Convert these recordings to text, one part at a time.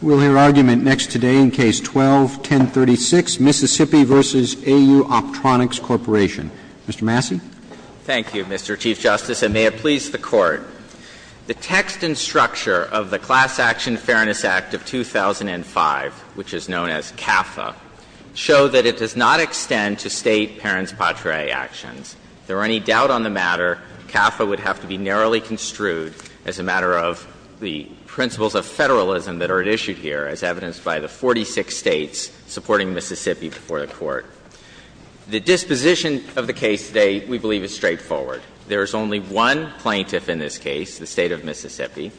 We'll hear argument next today in Case 12-1036, Mississippi v. AU Optronics Corp. Mr. Massey. Thank you, Mr. Chief Justice, and may it please the Court. The text and structure of the Class Action Fairness Act of 2005, which is known as CAFA, show that it does not extend to State parents' patria actions. If there were any doubt on the matter, CAFA would have to be narrowly construed as a matter of the principles of federalism that are at issue here, as evidenced by the 46 States supporting Mississippi before the Court. The disposition of the case today, we believe, is straightforward. There is only one plaintiff in this case, the State of Mississippi.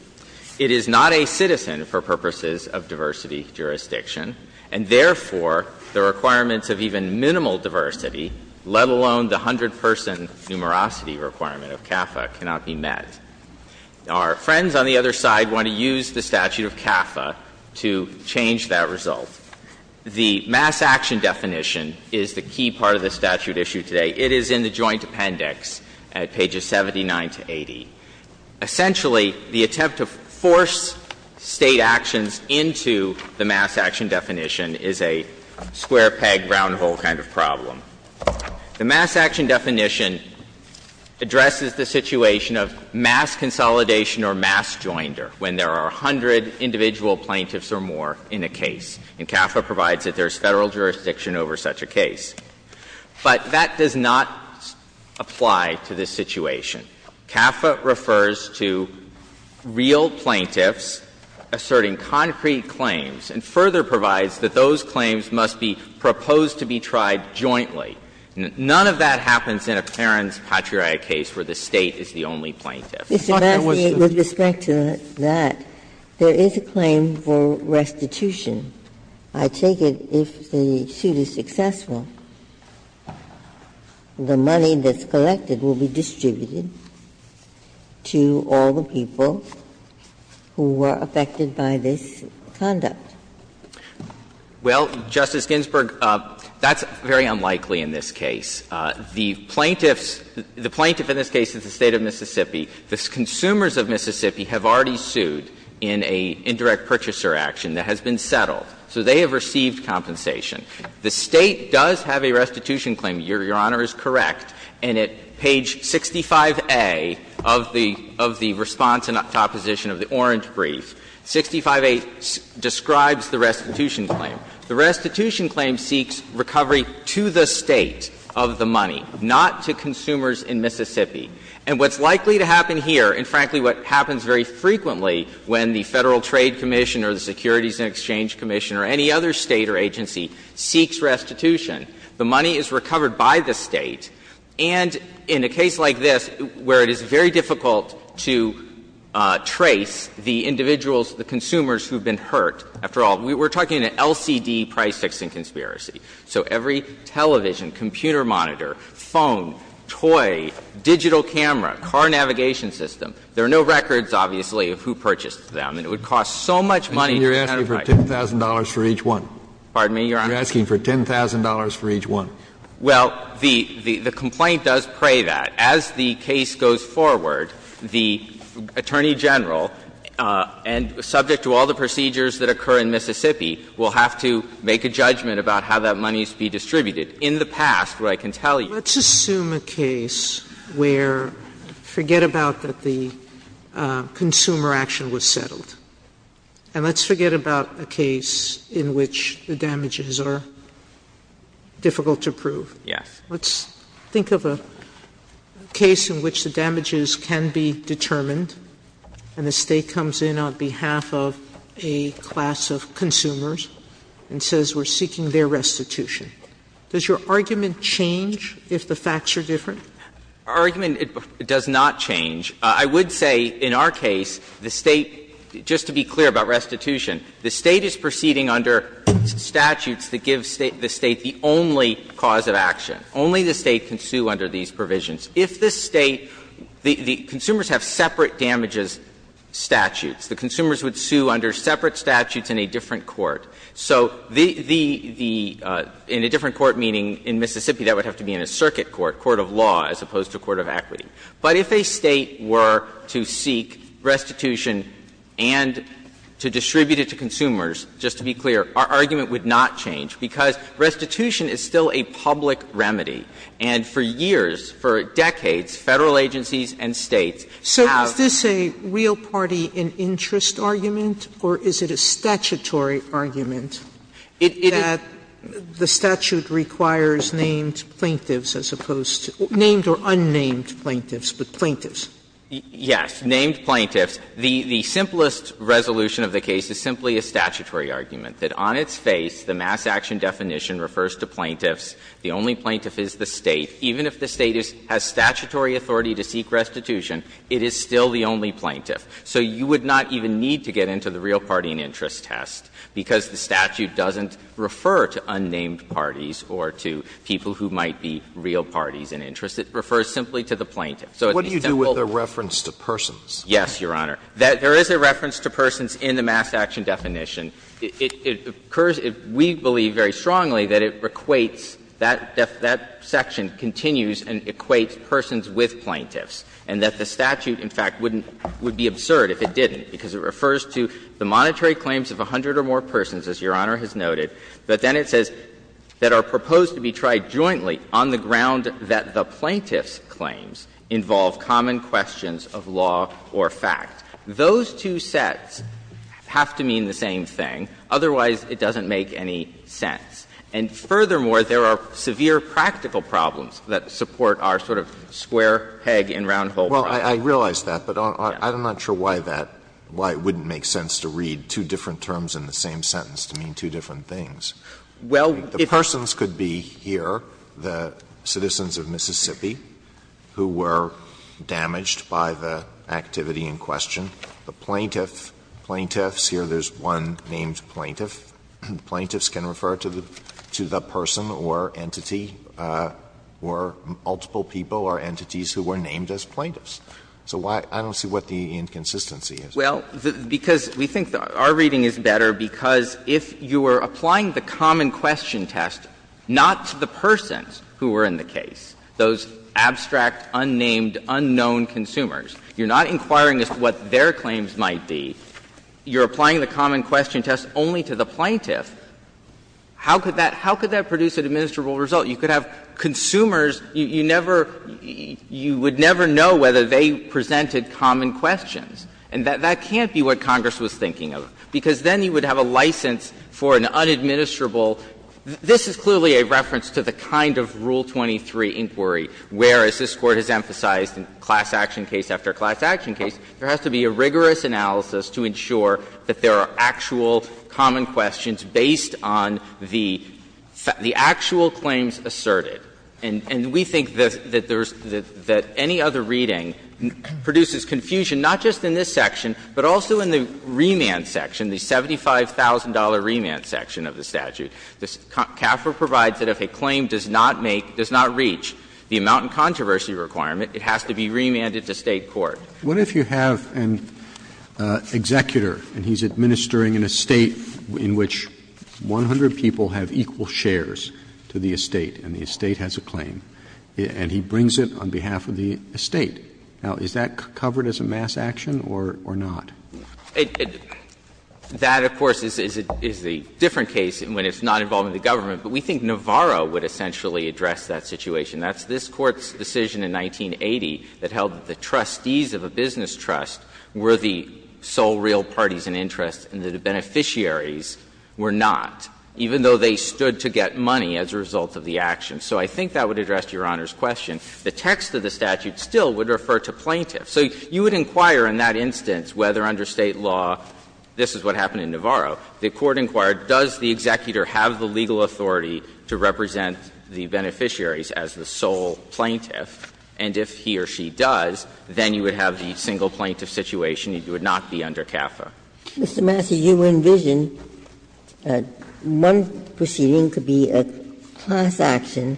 It is not a citizen for purposes of diversity jurisdiction, and therefore, the requirements of even minimal diversity, let alone the hundred-person numerosity requirement of CAFA, cannot be met. Our friends on the other side want to use the statute of CAFA to change that result. The mass action definition is the key part of the statute issued today. It is in the Joint Appendix at pages 79 to 80. Essentially, the attempt to force State actions into the mass action definition is a square peg, round hole kind of problem. The mass action definition addresses the situation of mass consolidation or mass joinder when there are a hundred individual plaintiffs or more in a case, and CAFA provides that there is Federal jurisdiction over such a case. But that does not apply to this situation. CAFA refers to real plaintiffs asserting concrete claims and further provides that those claims must be proposed to be tried jointly. None of that happens in a parent's patriotic case where the State is the only plaintiff. Ginsburg. I thought that was the case. Ginsburg. With respect to that, there is a claim for restitution. I take it if the suit is successful, the money that's collected will be distributed to all the people who were affected by this conduct. Well, Justice Ginsburg, that's very unlikely in this case. The plaintiffs – the plaintiff in this case is the State of Mississippi. The consumers of Mississippi have already sued in an indirect purchaser action that has been settled. So they have received compensation. The State does have a restitution claim, Your Honor, is correct, and at page 65A of the response to opposition of the Orange brief, 65A describes the plaintiffs' claim, describes the restitution claim. The restitution claim seeks recovery to the State of the money, not to consumers in Mississippi. And what's likely to happen here, and frankly what happens very frequently when the Federal Trade Commission or the Securities and Exchange Commission or any other State or agency seeks restitution, the money is recovered by the State. And in a case like this where it is very difficult to trace the individuals, the consumers who have been hurt, after all, we're talking an LCD price fixing conspiracy. So every television, computer monitor, phone, toy, digital camera, car navigation system, there are no records, obviously, of who purchased them. And it would cost so much money to identify. Kennedy, you're asking for $10,000 for each one. Pardon me, Your Honor? You're asking for $10,000 for each one. Well, the complaint does pray that. As the case goes forward, the Attorney General, and subject to all the procedures that occur in Mississippi, will have to make a judgment about how that money is to be distributed. In the past, where I can tell you. Sotomayor, let's assume a case where, forget about that the consumer action was settled, and let's forget about a case in which the damages are difficult to prove. Yes. Sotomayor, let's think of a case in which the damages can be determined and the State comes in on behalf of a class of consumers and says we're seeking their restitution. Does your argument change if the facts are different? Our argument does not change. I would say, in our case, the State, just to be clear about restitution, the State is proceeding under statutes that give the State the only cause of action. Only the State can sue under these provisions. If the State, the consumers have separate damages statutes. The consumers would sue under separate statutes in a different court. So the, in a different court, meaning in Mississippi, that would have to be in a circuit court, court of law, as opposed to court of equity. But if a State were to seek restitution and to distribute it to consumers, just to be clear, our argument would not change, because restitution is still a public remedy. And for years, for decades, Federal agencies and States have. Sotomayor, is this a real party in interest argument, or is it a statutory argument that the statute requires named plaintiffs as opposed to named or unnamed plaintiffs, but plaintiffs? Yes, named plaintiffs. The simplest resolution of the case is simply a statutory argument, that on its face, the mass action definition refers to plaintiffs. The only plaintiff is the State. Even if the State has statutory authority to seek restitution, it is still the only plaintiff. So you would not even need to get into the real party in interest test, because the statute doesn't refer to unnamed parties or to people who might be real parties in interest. It refers simply to the plaintiff. So it's an example. So what do you do with the reference to persons? Yes, Your Honor. There is a reference to persons in the mass action definition. It occurs, we believe very strongly that it equates, that section continues and equates persons with plaintiffs, and that the statute, in fact, wouldn't be absurd if it didn't, because it refers to the monetary claims of 100 or more persons, as Your Honor has noted, but then it says that are proposed to be tried jointly on the ground that the plaintiff's claims involve common questions of law or fact. Those two sets have to mean the same thing, otherwise it doesn't make any sense. And furthermore, there are severe practical problems that support our sort of square peg and round hole problem. Alito, I realize that, but I'm not sure why that, why it wouldn't make sense to read two different terms in the same sentence to mean two different things. The persons could be here, the citizens of Mississippi who were damaged by the activity in question. The plaintiff, plaintiffs, here there is one named plaintiff. Plaintiffs can refer to the person or entity or multiple people or entities who were named as plaintiffs. So I don't see what the inconsistency is. Well, because we think our reading is better, because if you were applying the common question test not to the persons who were in the case, those abstract, unnamed, unknown consumers, you're not inquiring as to what their claims might be, you're applying the common question test only to the plaintiff, how could that produce an administrable result? You could have consumers, you never, you would never know whether they presented common questions, and that can't be what Congress was thinking of, because then you would have a license for an unadministrable, this is clearly a reference to the kind of Rule 23 inquiry where, as this Court has emphasized in class action case after class action case, there has to be a rigorous analysis to ensure that there are actual common questions based on the actual claims asserted. And we think that there's the any other reading produces confusion, not just in this section, but also in the remand section, the $75,000 remand section of the statute. CAFR provides that if a claim does not make, does not reach the amount in controversy requirement, it has to be remanded to State court. Roberts, what if you have an executor and he's administering an estate in which 100 people have equal shares to the estate, and the estate has a claim, and he brings it on behalf of the estate? Now, is that covered as a mass action or not? That, of course, is the different case when it's not involving the government, but we think Navarro would essentially address that situation. That's this Court's decision in 1980 that held that the trustees of a business trust were the sole real parties in interest and that the beneficiaries were not, even though they stood to get money as a result of the action. So I think that would address Your Honor's question. The text of the statute still would refer to plaintiffs. So you would inquire in that instance whether under State law this is what happened in Navarro. The Court inquired, does the executor have the legal authority to represent the beneficiaries as the sole plaintiff, and if he or she does, then you would have the single plaintiff situation, you would not be under CAFA. Ginsburg, Mr. Massey, you envision one proceeding could be a class action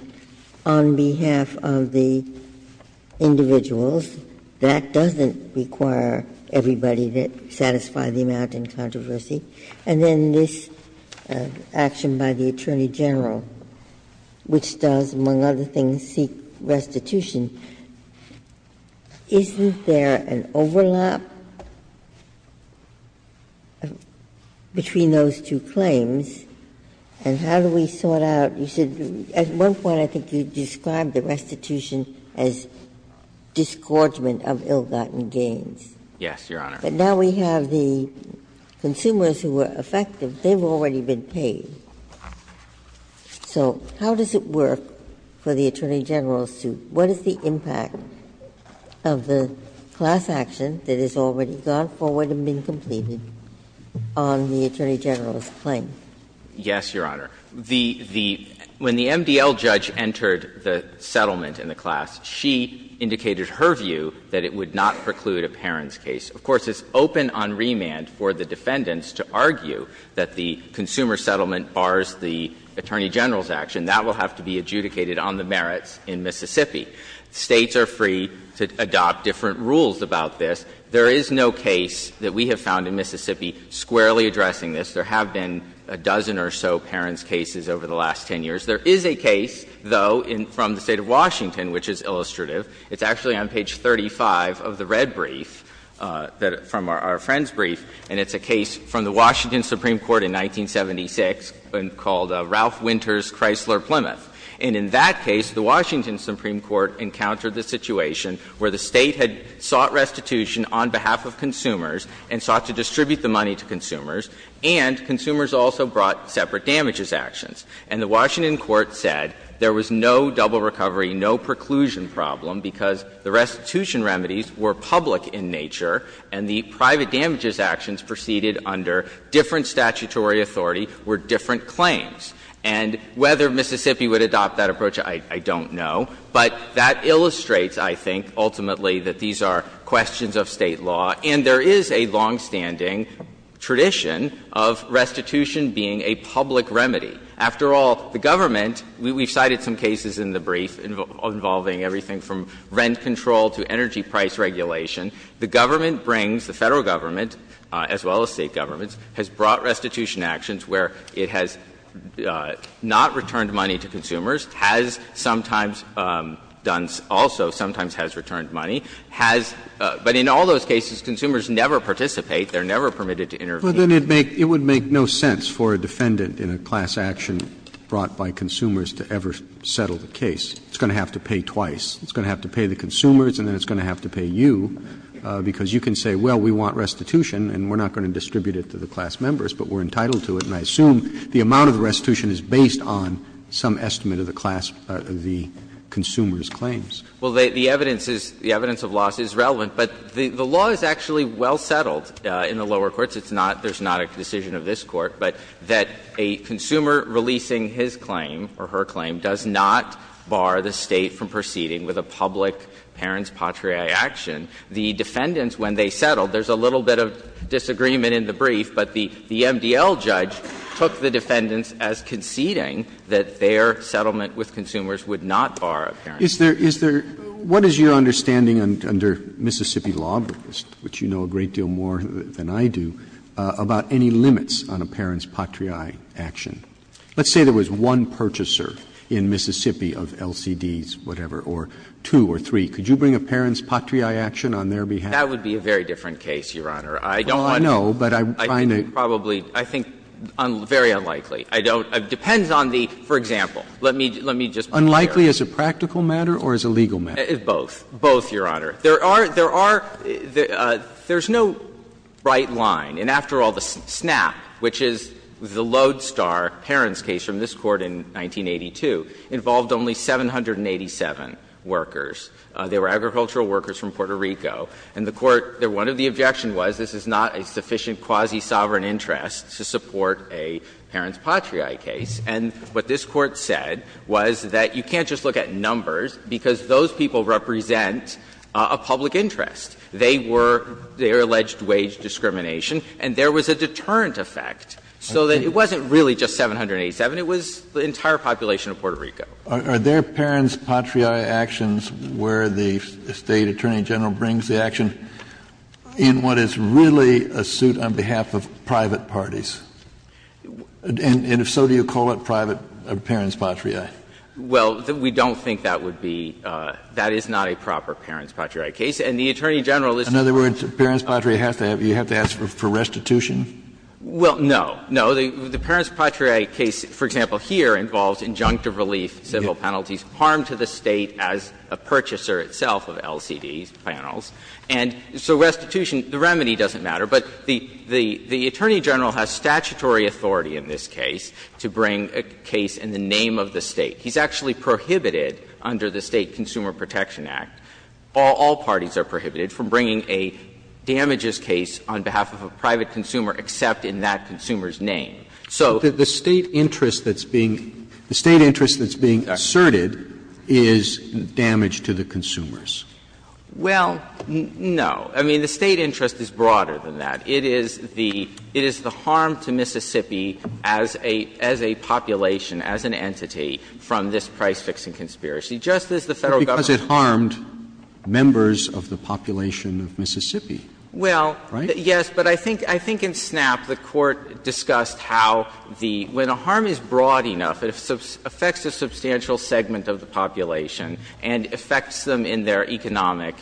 on behalf of the individuals. That doesn't require everybody to satisfy the amount in controversy. And then this action by the Attorney General, which does, among other things, seek restitution, isn't there an overlap between those two claims? And how do we sort out you said at one point I think you described the restitution as disgorgement of ill-gotten gains. Massey, Yes, Your Honor. Ginsburg, but now we have the consumers who are affected, they've already been paid. So how does it work for the Attorney General's suit? What is the impact of the class action that has already gone forward and been completed on the Attorney General's claim? Massey, Yes, Your Honor. The the when the MDL judge entered the settlement in the class, she indicated her view that it would not preclude a parents' case. Of course, it's open on remand for the defendants to argue that the consumer settlement bars the Attorney General's action. That will have to be adjudicated on the merits in Mississippi. States are free to adopt different rules about this. There is no case that we have found in Mississippi squarely addressing this. There have been a dozen or so parents' cases over the last 10 years. There is a case, though, from the State of Washington which is illustrative. It's actually on page 35 of the red brief, from our friend's brief, and it's a case from the Washington Supreme Court in 1976 called Ralph Winter's Chrysler Plymouth. And in that case, the Washington Supreme Court encountered the situation where the State had sought restitution on behalf of consumers and sought to distribute the money to consumers, and consumers also brought separate damages actions. And the Washington court said there was no double recovery, no preclusion problem, because the restitution remedies were public in nature, and the private damages actions proceeded under different statutory authority were different claims. And whether Mississippi would adopt that approach, I don't know, but that illustrates, I think, ultimately, that these are questions of State law, and there is a longstanding tradition of restitution being a public remedy. After all, the government, we've cited some cases in the brief involving everything from rent control to energy price regulation. The government brings, the Federal government, as well as State governments, has brought restitution actions where it has not returned money to consumers, has sometimes done also sometimes has returned money, has, but in all those cases, consumers never participate, they are never permitted to intervene. Roberts It would make no sense for a defendant in a class action brought by consumers to ever settle the case. It's going to have to pay twice. It's going to have to pay the consumers, and then it's going to have to pay you, because you can say, well, we want restitution, and we're not going to distribute it to the class members, but we're entitled to it, and I assume the amount of the restitution is based on some estimate of the class, of the consumer's claims. Well, the evidence is, the evidence of loss is relevant, but the law is actually well settled in the lower courts. It's not, there's not a decision of this Court, but that a consumer releasing his claim or her claim does not bar the State from proceeding with a public parents' patriae action. The defendants, when they settled, there's a little bit of disagreement in the brief, but the MDL judge took the defendants as conceding that their settlement with consumers would not bar a parents' patriae action. Roberts What is your understanding under Mississippi law, which you know a great deal more than I do, about any limits on a parents' patriae action? Let's say there was one purchaser in Mississippi of LCDs, whatever, or two or three. Could you bring a parents' patriae action on their behalf? That would be a very different case, Your Honor. I don't want to. Well, I know, but I'm trying to. I think probably, I think very unlikely. I don't, it depends on the, for example, let me just put it there. Unlikely as a practical matter or as a legal matter? Both. Both, Your Honor. There are, there are, there's no bright line. And after all, the SNAP, which is the lodestar parents' case from this Court in 1982, involved only 787 workers. They were agricultural workers from Puerto Rico. And the Court, one of the objections was this is not a sufficient quasi-sovereign interest to support a parents' patriae case. And what this Court said was that you can't just look at numbers, because those people represent a public interest. They were, they were alleged wage discrimination, and there was a deterrent effect, so that it wasn't really just 787. It was the entire population of Puerto Rico. Are their parents' patriae actions where the State attorney general brings the action in what is really a suit on behalf of private parties? And if so, do you call it private parents' patriae? Well, we don't think that would be, that is not a proper parents' patriae case. And the attorney general is. In other words, parents' patriae has to have, you have to ask for restitution? Well, no. No. The parents' patriae case, for example, here involves injunctive relief, civil penalties, harm to the State as a purchaser itself of LCD panels. And so restitution, the remedy doesn't matter. But the attorney general has statutory authority in this case to bring a case in the name of the State. He's actually prohibited under the State Consumer Protection Act, all parties are prohibited, from bringing a damages case on behalf of a private consumer, except in that consumer's name. So. Roberts. The State interest that's being, the State interest that's being asserted is damage to the consumers. Well, no. I mean, the State interest is broader than that. It is the harm to Mississippi as a population, as an entity, from this price-fixing conspiracy, just as the Federal government. But because it harmed members of the population of Mississippi, right? Well, yes. But I think in Snap the Court discussed how the, when a harm is broad enough, it affects a substantial segment of the population and affects them in their economic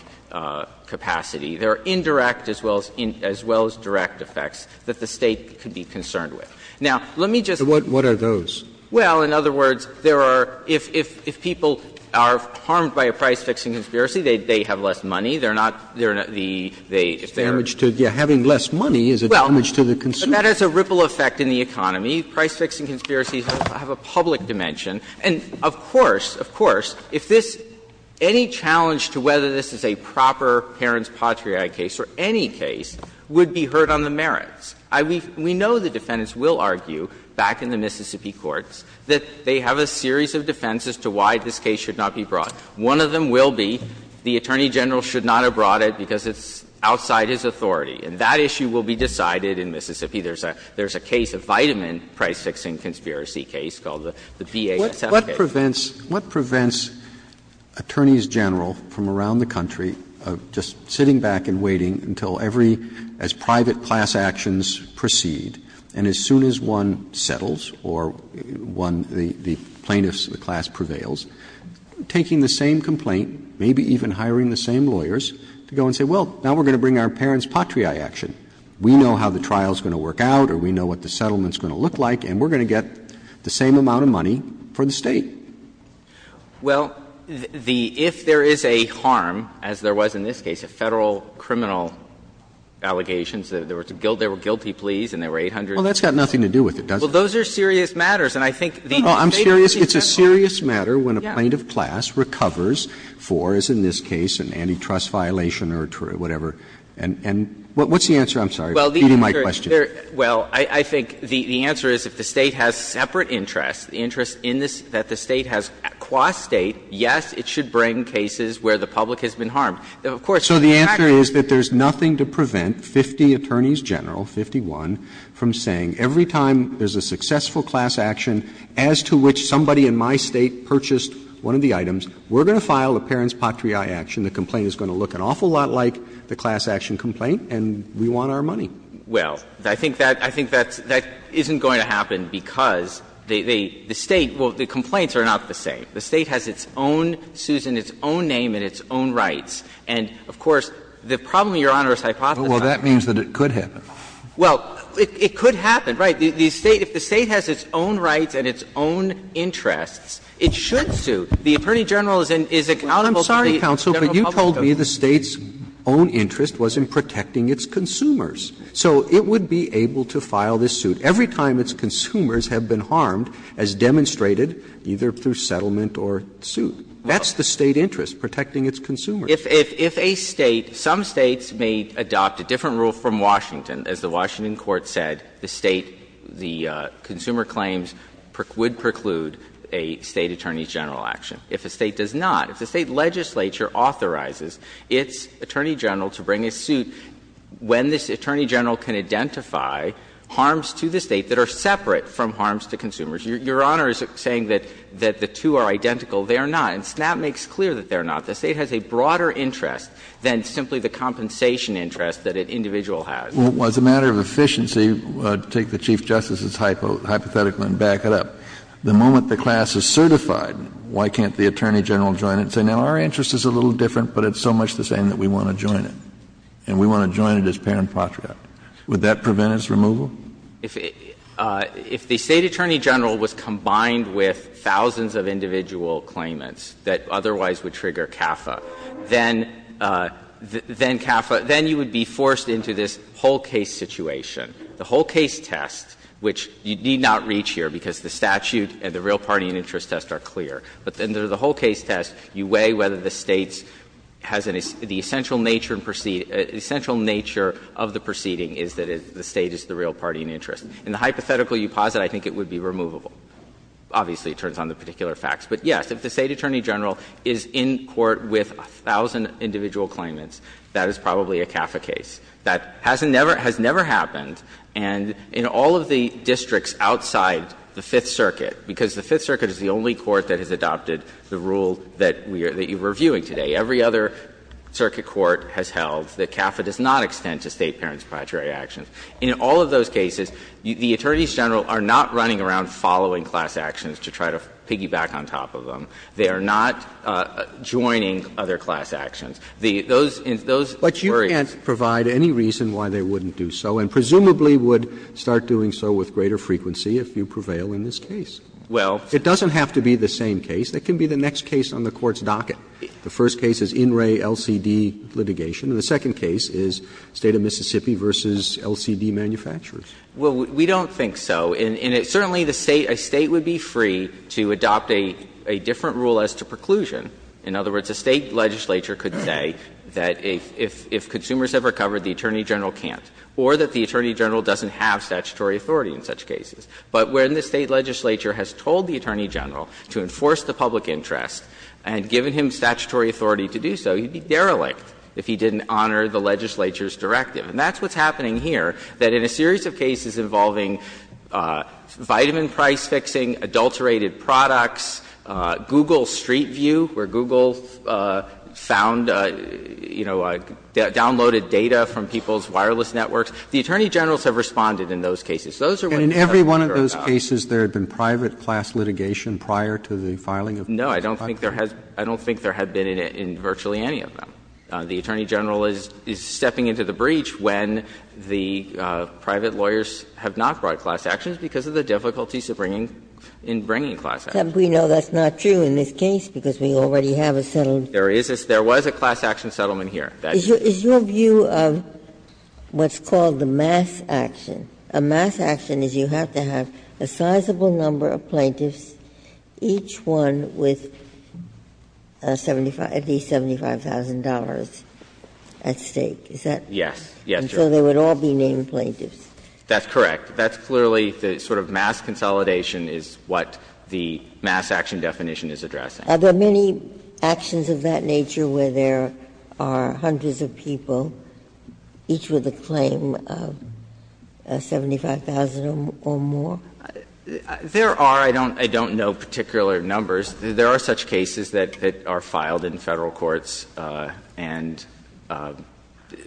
capacity. There are indirect as well as direct effects that the State could be concerned with. Now, let me just. What are those? Well, in other words, there are, if people are harmed by a price-fixing conspiracy, they have less money. They're not, they're not the, they, if they're. Damage to, having less money is a damage to the consumer. Well, that has a ripple effect in the economy. Price-fixing conspiracies have a public dimension. And of course, of course, if this, any challenge to whether this is a proper parents' patriotic case or any case would be hurt on the merits. I, we, we know the defendants will argue back in the Mississippi courts that they have a series of defenses to why this case should not be brought. One of them will be the Attorney General should not have brought it because it's outside his authority. And that issue will be decided in Mississippi. There's a, there's a case of vitamin price-fixing conspiracy case called the BAS. That's a, okay. Roberts, what prevents, what prevents attorneys general from around the country just sitting back and waiting until every as private class actions proceed, and as soon as one settles or one, the plaintiffs, the class prevails, taking the same complaint, maybe even hiring the same lawyers, to go and say, well, now we're going to bring our parents' patriae action. We know how the trial's going to work out or we know what the settlement's going to look like, and we're going to get the same amount of money for the State. Well, the – if there is a harm, as there was in this case, a Federal criminal allegations, there were guilty pleas and there were 800. Well, that's got nothing to do with it, does it? Well, those are serious matters, and I think the State are responsible for it. Well, I'm serious. It's a serious matter when a plaintiff class recovers for, as in this case, an antitrust violation or whatever. And what's the answer? I'm sorry for feeding my question. Well, I think the answer is if the State has separate interests, the interests in this that the State has qua State, yes, it should bring cases where the public has been harmed. Of course, the fact is that there's nothing to prevent 50 attorneys general, 51, from saying every time there's a successful class action as to which somebody in my State purchased one of the items, we're going to file a parents' patriae action, the complaint is going to look an awful lot like the class action complaint, and we want our money. Well, I think that isn't going to happen because the State – well, the complaints are not the same. The State has its own – sues in its own name and its own rights. And, of course, the problem, Your Honor, is hypothesizing. Well, that means that it could happen. Well, it could happen, right. The State – if the State has its own rights and its own interests, it should sue. The attorney general is accountable to the general public. I'm sorry, counsel, but you told me the State's own interest was in protecting its consumers. So it would be able to file this suit every time its consumers have been harmed as demonstrated, either through settlement or suit. That's the State interest, protecting its consumers. If a State – some States may adopt a different rule from Washington. As the Washington court said, the State – the consumer claims would preclude a State attorney general action. If a State does not, if the State legislature authorizes its attorney general to bring a suit when this attorney general can identify harms to the State that are separate from harms to consumers, Your Honor is saying that the two are identical. They are not. And SNAP makes clear that they are not. The State has a broader interest than simply the compensation interest that an individual has. Kennedy, as a matter of efficiency, take the Chief Justice's hypothetical and back it up. The moment the class is certified, why can't the attorney general join it and say, Now, our interest is a little different, but it's so much the same that we want to join it. And we want to join it as parent-patriot. Would that prevent its removal? If the State attorney general was combined with thousands of individual claimants that otherwise would trigger CAFA, then CAFA – then you would be forced into this whole case situation. The whole case test, which you need not reach here because the statute and the real party and interest test are clear, but in the whole case test, you weigh whether the State has an – the essential nature of the proceeding is that the State is the real party and interest. In the hypothetical you posit, I think it would be removable. Obviously, it turns on the particular facts. But, yes, if the State attorney general is in court with a thousand individual claimants, that is probably a CAFA case. That has never happened. And in all of the districts outside the Fifth Circuit, because the Fifth Circuit is the only court that has adopted the rule that we are – that you are reviewing today, every other circuit court has held that CAFA does not extend to State parent-patriot actions. In all of those cases, the attorneys general are not running around following class actions to try to piggyback on top of them. They are not joining other class actions. Those – those worries. Roberts I can't provide any reason why they wouldn't do so, and presumably would start doing so with greater frequency if you prevail in this case. It doesn't have to be the same case. It can be the next case on the Court's docket. The first case is in-ray LCD litigation, and the second case is State of Mississippi v. LCD manufacturers. Well, we don't think so. And certainly the State – a State would be free to adopt a different rule as to preclusion. In other words, a State legislature could say that if consumers have recovered, the attorney general can't, or that the attorney general doesn't have statutory authority in such cases. But when the State legislature has told the attorney general to enforce the public interest and given him statutory authority to do so, he'd be derelict if he didn't honor the legislature's directive. And that's what's happening here, that in a series of cases involving vitamin C, enterprise fixing, adulterated products, Google Street View, where Google found, you know, downloaded data from people's wireless networks, the attorney generals have responded in those cases. Those are what you have to worry about. Roberts. Kennedy. And in every one of those cases, there had been private class litigation prior to the filing of the contract? No, I don't think there has – I don't think there had been in virtually any of them. The attorney general is stepping into the breach when the private lawyers have not brought class actions because of the difficulties of bringing – in bringing class actions. We know that's not true in this case because we already have a settlement. There is a – there was a class action settlement here. Is your view of what's called the mass action, a mass action is you have to have a sizable number of plaintiffs, each one with 75 – at least $75,000 at stake. Is that right? Yes. Yes, Your Honor. So they would all be named plaintiffs. That's correct. That's clearly the sort of mass consolidation is what the mass action definition is addressing. Are there many actions of that nature where there are hundreds of people, each with a claim of 75,000 or more? There are. I don't know particular numbers. There are such cases that are filed in Federal courts and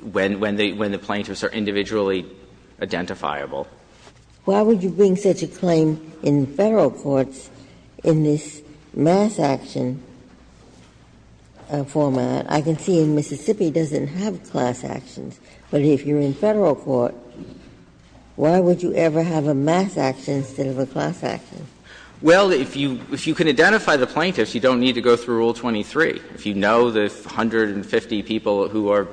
when the plaintiffs are individually identifiable. Why would you bring such a claim in Federal courts in this mass action format? I can see in Mississippi it doesn't have class actions, but if you're in Federal court, why would you ever have a mass action instead of a class action? Well, if you can identify the plaintiffs, you don't need to go through Rule 23. If you know the 150 people who are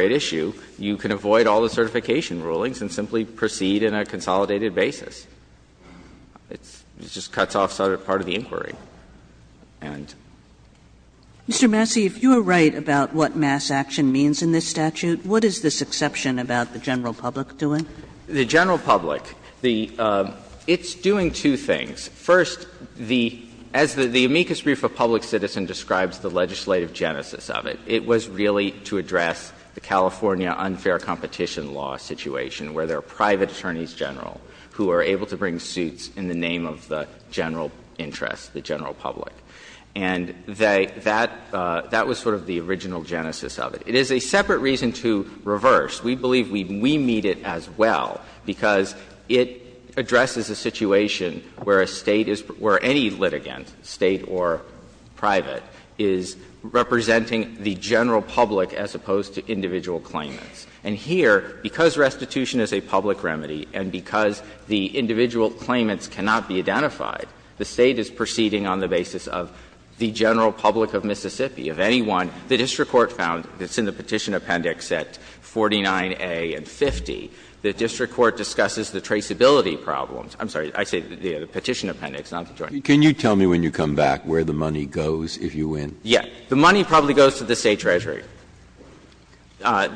at issue, you can avoid all the certification rulings and simply proceed in a consolidated basis. It just cuts off part of the inquiry. And Mr. Massey, if you are right about what mass action means in this statute, what is this exception about the general public doing? The general public, the – it's doing two things. First, the – as the amicus brief of public citizen describes the legislative genesis of it, it was really to address the California unfair competition law situation. Where there are private attorneys general who are able to bring suits in the name of the general interest, the general public. And they – that was sort of the original genesis of it. It is a separate reason to reverse. We believe we meet it as well because it addresses a situation where a State is – where any litigant, State or private, is representing the general public as opposed to individual claimants. And here, because restitution is a public remedy and because the individual claimants cannot be identified, the State is proceeding on the basis of the general public of Mississippi. If anyone – the district court found, it's in the Petition Appendix at 49A and 50, the district court discusses the traceability problems. I'm sorry, I say the Petition Appendix, not the Joint. Breyer. Can you tell me when you come back where the money goes if you win? Yeah. The money probably goes to the State treasury.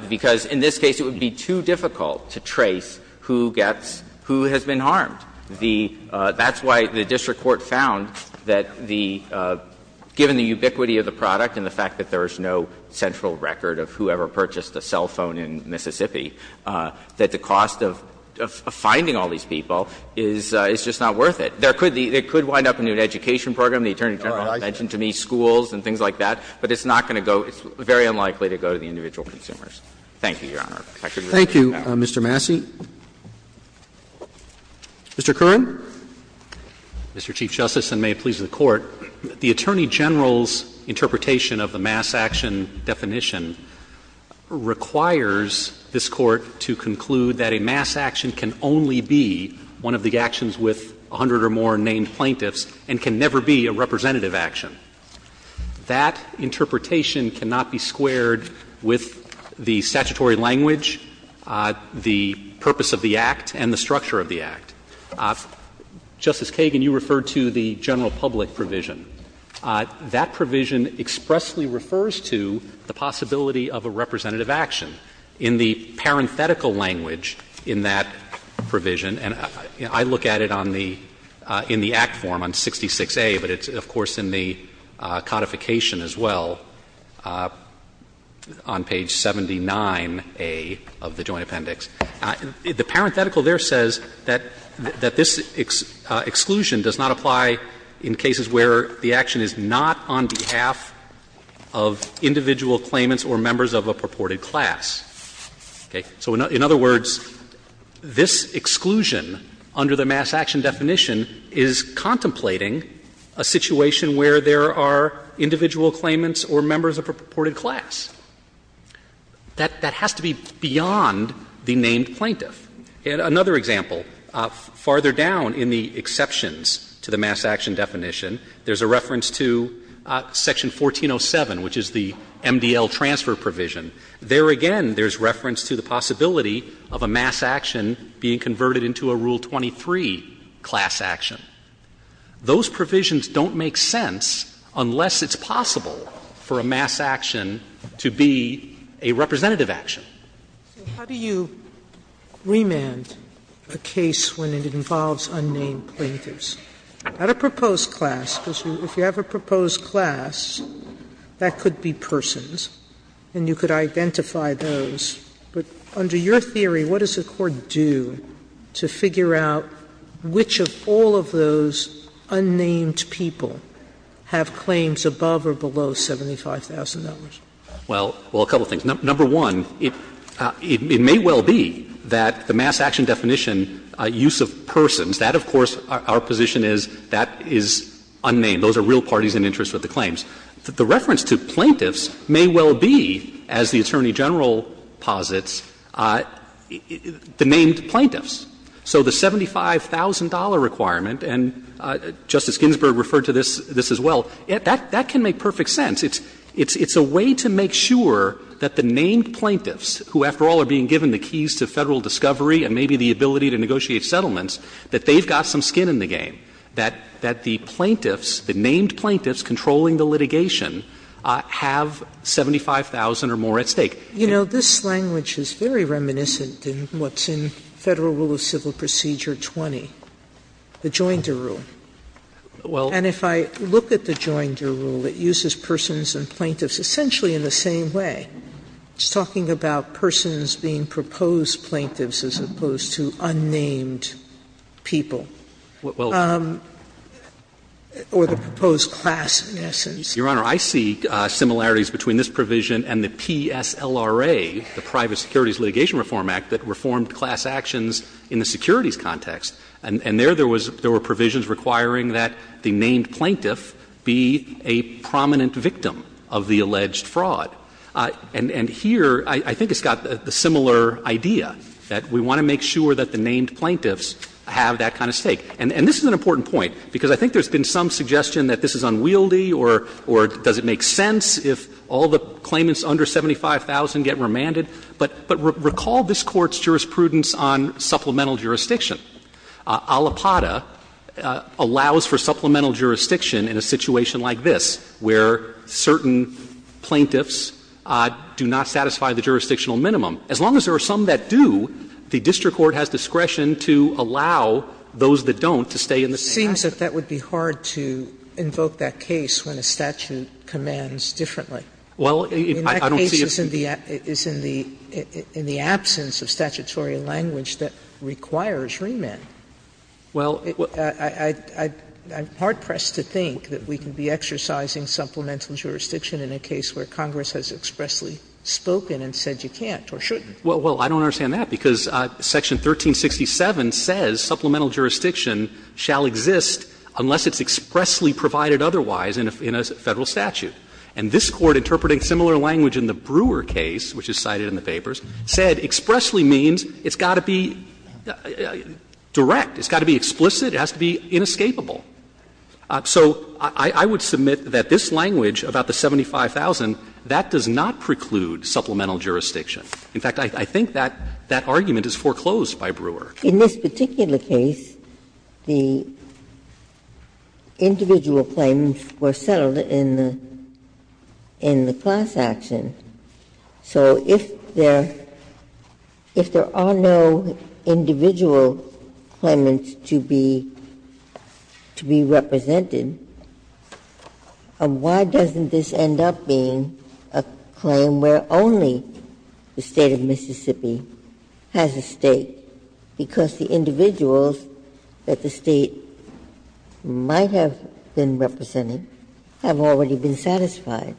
Because in this case, it would be too difficult to trace who gets – who has been harmed. The – that's why the district court found that the – given the ubiquity of the product and the fact that there is no central record of whoever purchased a cell phone in Mississippi, that the cost of finding all these people is just not worth it. There could be – it could wind up in an education program. The Attorney General mentioned to me schools and things like that. But it's not going to go – it's very unlikely to go to the individual consumers. Thank you, Your Honor. I could go on. Thank you, Mr. Massey. Mr. Kern. Mr. Chief Justice, and may it please the Court, the Attorney General's interpretation of the mass action definition requires this Court to conclude that a mass action can only be one of the actions with 100 or more named plaintiffs and can never be a representative action. That interpretation cannot be squared with the statutory language, the purpose of the Act, and the structure of the Act. Justice Kagan, you referred to the general public provision. That provision expressly refers to the possibility of a representative action. In the parenthetical language in that provision, and I look at it on the – in the Act form on 66A, but it's, of course, in the codification as well, on page 79A of the Joint Appendix, the parenthetical there says that this exclusion does not apply in cases where the action is not on behalf of individual claimants or members of a purported class. Okay? So in other words, this exclusion under the mass action definition is contrary to contemplating a situation where there are individual claimants or members of a purported class. That has to be beyond the named plaintiff. Another example, farther down in the exceptions to the mass action definition, there's a reference to Section 1407, which is the MDL transfer provision. There again, there's reference to the possibility of a mass action being converted into a Rule 23 class action. Those provisions don't make sense unless it's possible for a mass action to be a representative action. Sotomayor So how do you remand a case when it involves unnamed plaintiffs? Not a proposed class, because if you have a proposed class, that could be persons, and you could identify those. But under your theory, what does the Court do to figure out which of all of those unnamed people have claims above or below $75,000? Well, a couple of things. Number one, it may well be that the mass action definition, use of persons, that of course our position is that is unnamed. Those are real parties in interest with the claims. The reference to plaintiffs may well be, as the Attorney General posits, the named plaintiffs. So the $75,000 requirement, and Justice Ginsburg referred to this as well, that can make perfect sense. It's a way to make sure that the named plaintiffs, who after all are being given the keys to Federal discovery and maybe the ability to negotiate settlements, that they've got some skin in the game, that the plaintiffs, the named plaintiffs controlling the litigation, have $75,000 or more at stake. You know, this language is very reminiscent in what's in Federal Rule of Civil Procedure 20, the Joinder Rule. Well. And if I look at the Joinder Rule, it uses persons and plaintiffs essentially in the same way. It's talking about persons being proposed plaintiffs as opposed to unnamed people. Well. Or the proposed class, in essence. Your Honor, I see similarities between this provision and the PSLRA, the Private Securities Litigation Reform Act, that reformed class actions in the securities context. And there, there were provisions requiring that the named plaintiff be a prominent victim of the alleged fraud. And here, I think it's got the similar idea, that we want to make sure that the named plaintiffs have that kind of stake. And this is an important point, because I think there's been some suggestion that this is unwieldy or does it make sense if all the claimants under 75,000 get remanded. But recall this Court's jurisprudence on supplemental jurisdiction. Alipata allows for supplemental jurisdiction in a situation like this, where certain plaintiffs do not satisfy the jurisdictional minimum. As long as there are some that do, the district court has discretion to allow those that don't to stay in the same household. Sotomayor, it seems that that would be hard to invoke that case when a statute commands differently. Well, I don't see a fee. In that case, it's in the absence of statutory language that requires remand. Well, I'm hard-pressed to think that we can be exercising supplemental jurisdiction in a case where Congress has expressly spoken and said you can't or shouldn't. Well, I don't understand that, because Section 1367 says supplemental jurisdiction shall exist unless it's expressly provided otherwise in a Federal statute. And this Court, interpreting similar language in the Brewer case, which is cited in the papers, said expressly means it's got to be direct, it's got to be explicit, it has to be inescapable. So I would submit that this language about the 75,000, that does not preclude supplemental jurisdiction. In fact, I think that that argument is foreclosed by Brewer. Ginsburg. In this particular case, the individual claims were settled in the class action. So if there are no individual claimants to be represented, why doesn't this end up being a claim where only the State of Mississippi has a stake, because the individuals that the State might have been representing have already been satisfied.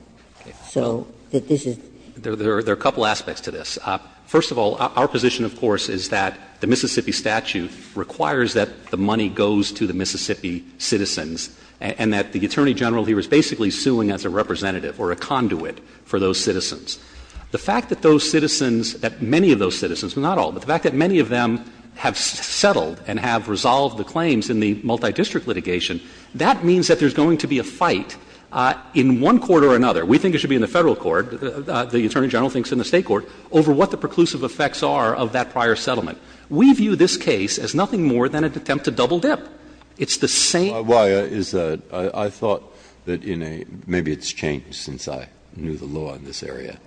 So this is the case. There are a couple aspects to this. First of all, our position, of course, is that the Mississippi statute requires that the money goes to the Mississippi citizens and that the Attorney General, he was basically suing as a representative or a conduit for those citizens. The fact that those citizens, that many of those citizens, not all, but the fact that many of them have settled and have resolved the claims in the multidistrict litigation, that means that there's going to be a fight. In one court or another, we think it should be in the Federal court, the Attorney General thinks in the State court, over what the preclusive effects are of that prior settlement. We view this case as nothing more than an attempt to double dip. It's the same. Breyer, is that — I thought that in a — maybe it's changed since I knew the law in this area.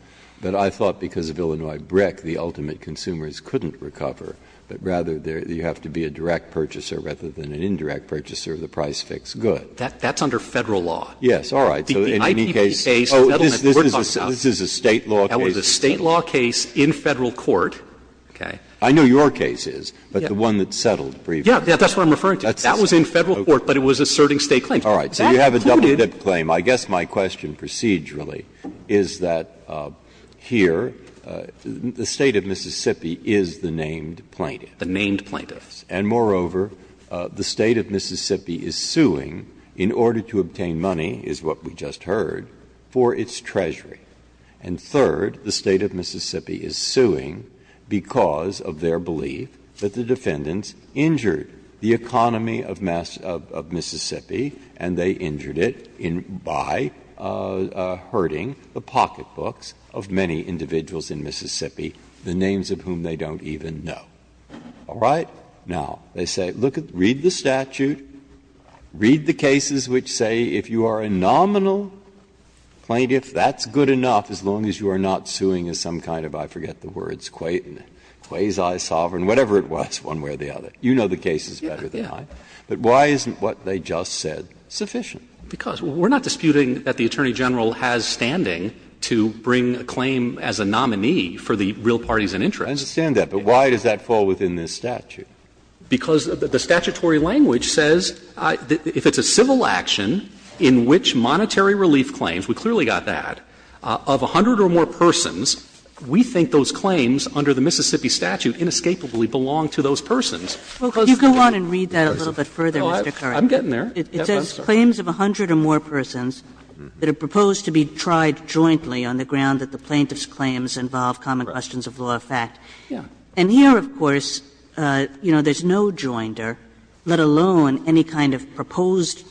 But I thought because of Illinois BRIC, the ultimate consumers couldn't recover, but rather you have to be a direct purchaser rather than an indirect purchaser of the price-fix good. That's under Federal law. Breyer, yes, all right. So in any case, oh, this is a State law case? That was a State law case in Federal court, okay? I know your case is, but the one that settled briefly. Yeah, that's what I'm referring to. That was in Federal court, but it was asserting State claims. All right. So you have a double dip claim. I guess my question procedurally is that here, the State of Mississippi is the named plaintiff. The named plaintiffs. And moreover, the State of Mississippi is suing, in order to obtain money, is what we just heard, for its treasury. And third, the State of Mississippi is suing because of their belief that the defendants injured the economy of Mississippi, and they injured it by herding the pocketbooks of many individuals in Mississippi, the names of whom they don't even know. All right? Now, they say, look at, read the statute, read the cases which say, if you are a nominal plaintiff, that's good enough, as long as you are not suing as some kind of, I forget the words, quasi-sovereign, whatever it was, one way or the other. You know the cases better than I. But why isn't what they just said sufficient? Because we're not disputing that the Attorney General has standing to bring a claim as a nominee for the real parties in interest. I understand that. But why does that fall within this statute? Because the statutory language says, if it's a civil action in which monetary relief claims, we clearly got that, of 100 or more persons, we think those claims under the Mississippi statute inescapably belong to those persons. Well, could you go on and read that a little bit further, Mr. Carvin? Well, I'm getting there. It says claims of 100 or more persons that are proposed to be tried jointly on the ground that the plaintiff's claims involve common questions of law of fact. And here, of course, you know, there's no jointer, let alone any kind of proposed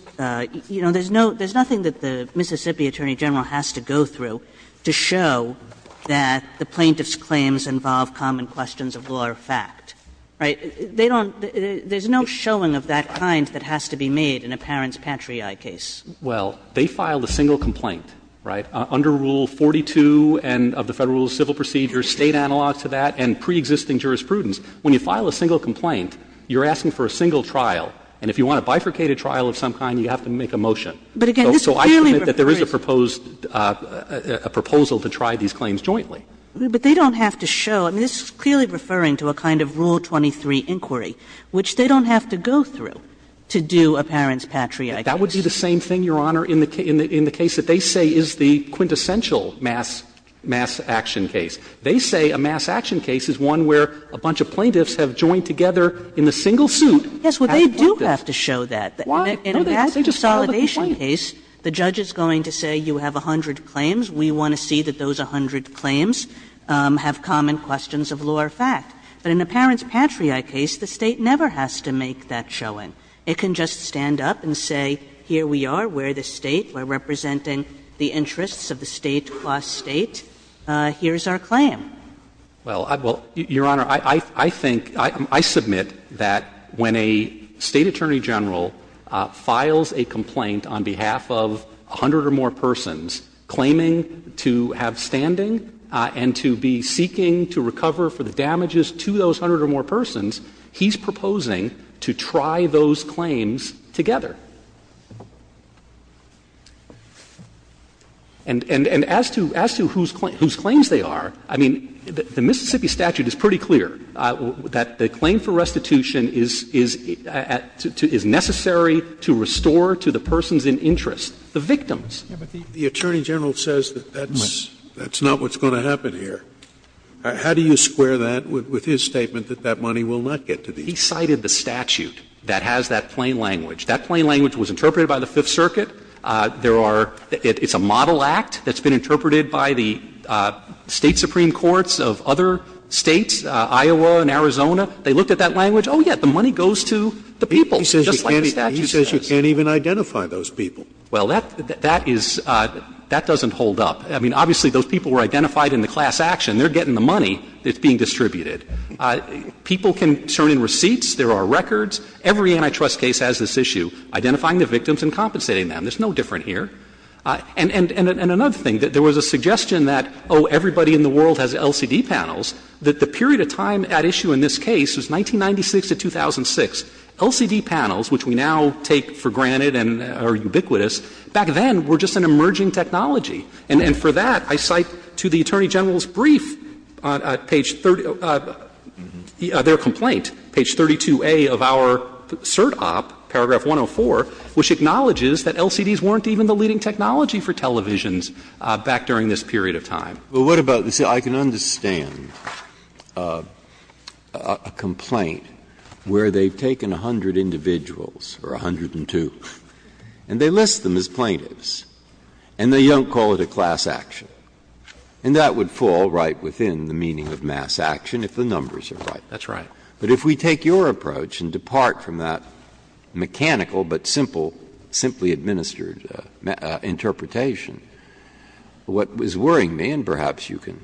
you know, there's no, there's nothing that the Mississippi Attorney General has to go through to show that the plaintiff's claims involve common questions of law of fact, right? They don't, there's no showing of that kind that has to be made in a parent's patriae case. Well, they filed a single complaint, right, under Rule 42 and of the Federal Rules, civil procedures, State analogs to that, and preexisting jurisprudence. When you file a single complaint, you're asking for a single trial. And if you want a bifurcated trial of some kind, you have to make a motion. But again, this clearly refers to But I submit that there is a proposed, a proposal to try these claims jointly. But they don't have to show, I mean, this is clearly referring to a kind of Rule 23 inquiry, which they don't have to go through to do a parent's patriae case. That would be the same thing, Your Honor, in the case that they say is the quintessential mass, mass action case. They say a mass action case is one where a bunch of plaintiffs have joined together in a single suit as plaintiffs. Kagan. Yes, well, they do have to show that. In a mass consolidation case, the judge is going to say you have 100 claims, we want to see that those 100 claims have common questions of law of fact. But in a parent's patriae case, the State never has to make that showing. It can just stand up and say, here we are, we're the State, we're representing the interests of the State across State, here's our claim. Well, Your Honor, I think, I submit that when a State attorney general files a complaint on behalf of 100 or more persons claiming to have standing and to be seeking to recover for the damages to those 100 or more persons, he's proposing to try those claims together. And as to whose claims they are, I mean, the Mississippi statute is pretty clear, that the claim for restitution is necessary to restore to the persons in interest, the victims. Scalia. But the attorney general says that that's not what's going to happen here. How do you square that with his statement that that money will not get to these people? He cited the statute that has that plain language. That plain language was interpreted by the Fifth Circuit. There are – it's a model act that's been interpreted by the State supreme courts of other States, Iowa and Arizona. They looked at that language, oh, yes, the money goes to the people, just like the statute says. Scalia. He says you can't even identify those people. Well, that is – that doesn't hold up. I mean, obviously, those people were identified in the class action. They're getting the money that's being distributed. People can turn in receipts, there are records. Every antitrust case has this issue, identifying the victims and compensating them. There's no different here. And another thing, there was a suggestion that, oh, everybody in the world has LCD panels, that the period of time at issue in this case was 1996 to 2006. LCD panels, which we now take for granted and are ubiquitous, back then were just an emerging technology. And for that, I cite to the attorney general's brief, page 30 – their complaint, page 32A of our cert op, paragraph 104, which acknowledges that LCDs weren't even the leading technology for televisions back during this period of time. Breyer, what about – see, I can understand a complaint where they've taken 100 individuals or 102, and they list them as plaintiffs, and they don't call it a class action. And that would fall right within the meaning of mass action if the numbers are right. That's right. But if we take your approach and depart from that mechanical but simple, simply administered interpretation, what is worrying me, and perhaps you can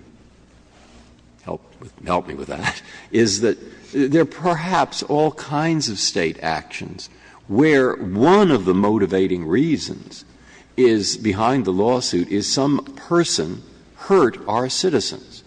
help me with that, is that there are perhaps all kinds of State actions where one of the motivating reasons is behind the lawsuit is some person hurt our citizens.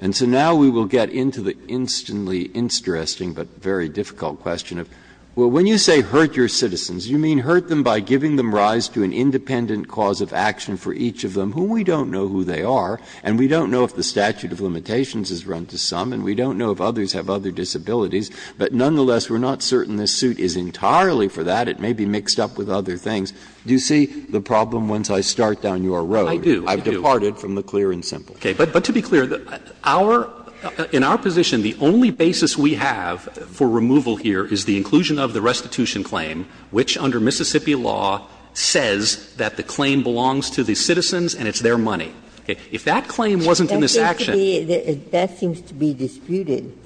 And so now we will get into the instantly interesting but very difficult question of, well, when you say hurt your citizens, you mean hurt them by giving them rise to an independent cause of action for each of them, who we don't know who they are, and we don't know if the statute of limitations is run to some, and we don't know if others have other disabilities, but nonetheless, we're not certain this suit is entirely for that. It may be mixed up with other things. Do you see the problem once I start down your road? I do. I've departed from the clear and simple. Okay. But to be clear, our – in our position, the only basis we have for removal here is the inclusion of the restitution claim, which under Mississippi law says that the claim belongs to the citizens and it's their money. If that claim wasn't in this action – That seems to be disputed,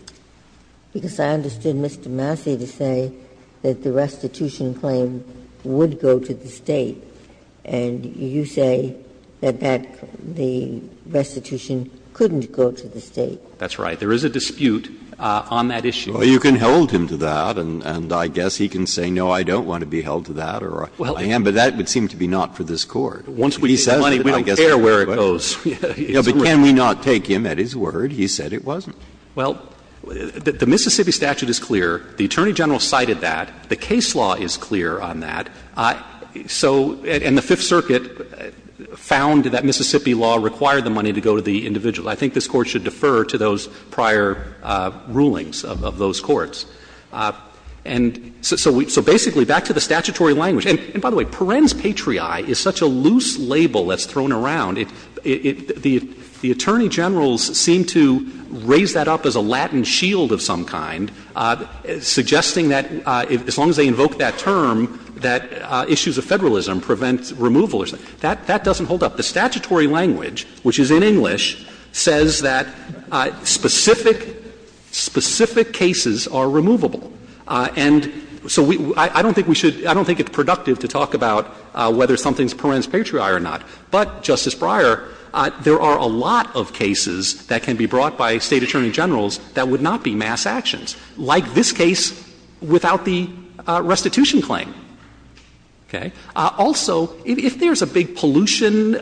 because I understood Mr. Massey to say that the restitution claim would go to the State, and you say that the restitution couldn't go to the State. That's right. There is a dispute on that issue. Well, you can hold him to that, and I guess he can say, no, I don't want to be held to that, or I am, but that would seem to be not for this Court. Once we get the money, we don't care where it goes. But can we not take him at his word? He said it wasn't. Well, the Mississippi statute is clear. The Attorney General cited that. The case law is clear on that. So – and the Fifth Circuit found that Mississippi law required the money to go to the individual. I think this Court should defer to those prior rulings of those courts. And so basically, back to the statutory language – and by the way, per rens patriae is such a loose label that's thrown around. The Attorney Generals seem to raise that up as a Latin shield of some kind, suggesting that as long as they invoke that term, that issues of federalism prevent removal or something. That doesn't hold up. The statutory language, which is in English, says that specific – specific cases are removable. And so we – I don't think we should – I don't think it's productive to talk about whether something is per rens patriae or not. But, Justice Breyer, there are a lot of cases that can be brought by State Attorney Generals that would not be mass actions. Like this case without the restitution claim. Okay? Also, if there's a big pollution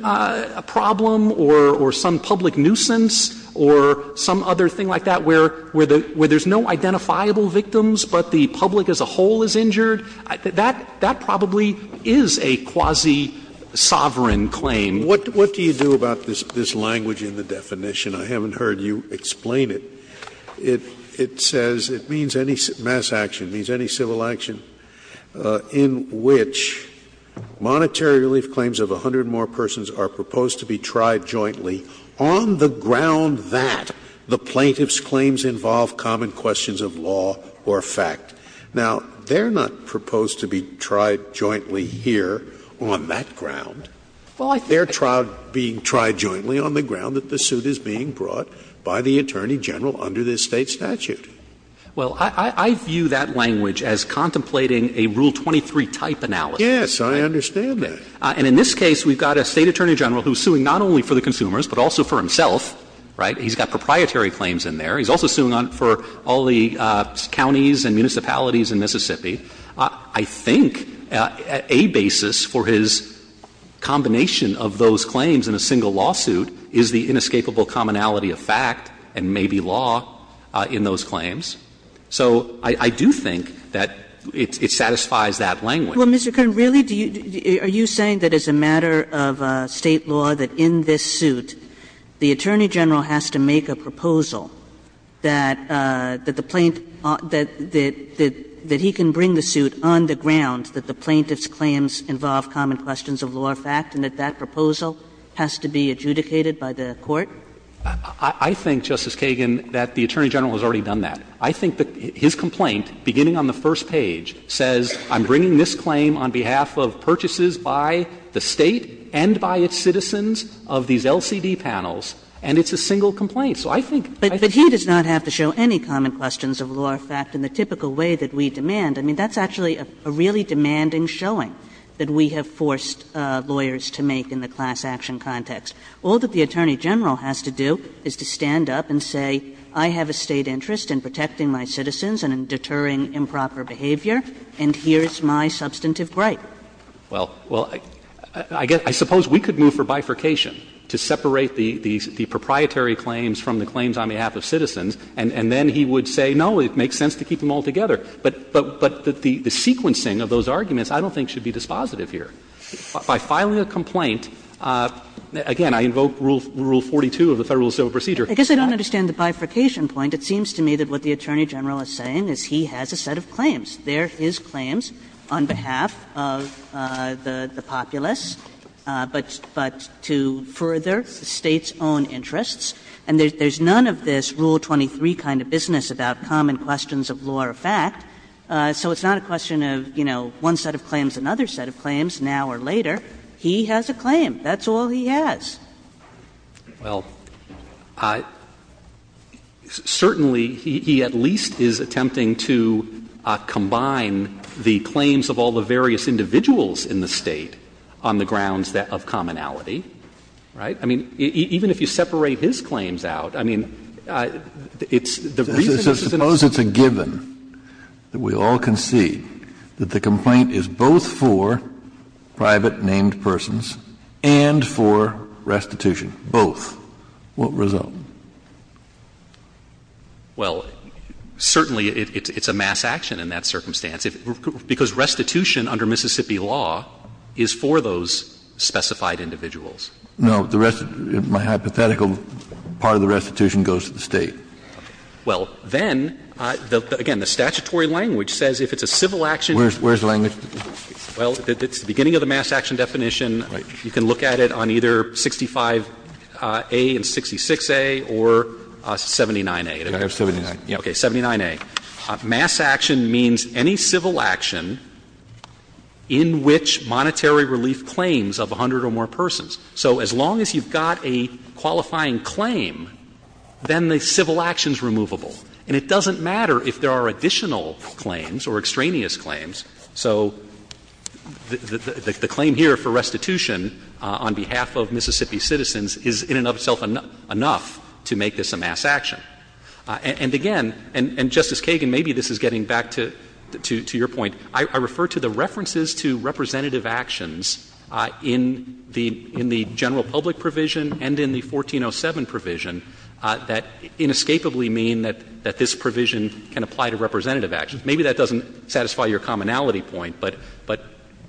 problem or some public nuisance or some other thing like that where there's no identifiable victims but the public as a whole is injured, that probably is a quasi-sovereign claim. Scalia. What do you do about this language in the definition? I haven't heard you explain it. It says it means any mass action, means any civil action in which monetary relief claims of 100 more persons are proposed to be tried jointly on the ground that the plaintiff's claims involve common questions of law or fact. Now, they're not proposed to be tried jointly here on that ground. They're tried jointly on the ground that the suit is being brought by the Attorney General under this State statute. Well, I view that language as contemplating a Rule 23-type analysis. Yes, I understand that. And in this case, we've got a State Attorney General who's suing not only for the consumers but also for himself, right? He's got proprietary claims in there. He's also suing for all the counties and municipalities in Mississippi. I think a basis for his combination of those claims in a single lawsuit is the inescapable commonality of fact and maybe law in those claims. So I do think that it satisfies that language. Kagan. Well, Mr. Kern, really, are you saying that as a matter of State law, that in this suit, the Attorney General has to make a proposal that the plaintiff – that he can bring the suit on the ground that the plaintiff's claims involve common questions of law or fact, and that that proposal has to be adjudicated by the Court? I think, Justice Kagan, that the Attorney General has already done that. I think that his complaint, beginning on the first page, says, I'm bringing this claim on behalf of purchases by the State and by its citizens of these LCD panels, and it's a single complaint. So I think – But he does not have to show any common questions of law or fact in the typical way that we demand. I mean, that's actually a really demanding showing that we have forced lawyers to make in the class action context. All that the Attorney General has to do is to stand up and say, I have a State interest in protecting my citizens and in deterring improper behavior, and here's my substantive right. Well, I guess – I suppose we could move for bifurcation to separate the proprietary claims from the claims on behalf of citizens, and then he would say, no, it makes sense to keep them all together. But the sequencing of those arguments I don't think should be dispositive here. By filing a complaint, again, I invoke Rule 42 of the Federal civil procedure. Kagan. Kagan. Kagan I guess I don't understand the bifurcation point. It seems to me that what the Attorney General is saying is he has a set of claims. They are his claims on behalf of the populace, but to further the State's own interests. And there's none of this Rule 23 kind of business about common questions of law or fact. So it's not a question of, you know, one set of claims, another set of claims, now or later. He has a claim. That's all he has. Well, certainly he at least is attempting to combine the claims of all the various individuals in the State on the grounds of commonality, right? I mean, even if you separate his claims out, I mean, it's the reason this is an instance. Kennedy So suppose it's a given that we all concede that the complaint is both for private named persons and for restitution, both. What result? Well, certainly it's a mass action in that circumstance, because restitution under Mississippi law is for those specified individuals. Kennedy No, the rest of my hypothetical part of the restitution goes to the State. Roberts Well, then, again, the statutory language says if it's a civil action. Kennedy Where's the language? Roberts Well, it's the beginning of the mass action definition. Kennedy Right. Roberts You can look at it on either 65A and 66A or 79A. Kennedy I have 79. Roberts Okay, 79A. Mass action means any civil action in which monetary relief claims of 100 or more persons. So as long as you've got a qualifying claim, then the civil action is removable. And it doesn't matter if there are additional claims or extraneous claims. So the claim here for restitution on behalf of Mississippi citizens is in and of itself enough to make this a mass action. And again, and Justice Kagan, maybe this is getting back to your point, I refer to the general public provision and in the 1407 provision that inescapably mean that this provision can apply to representative actions. Maybe that doesn't satisfy your commonality point, but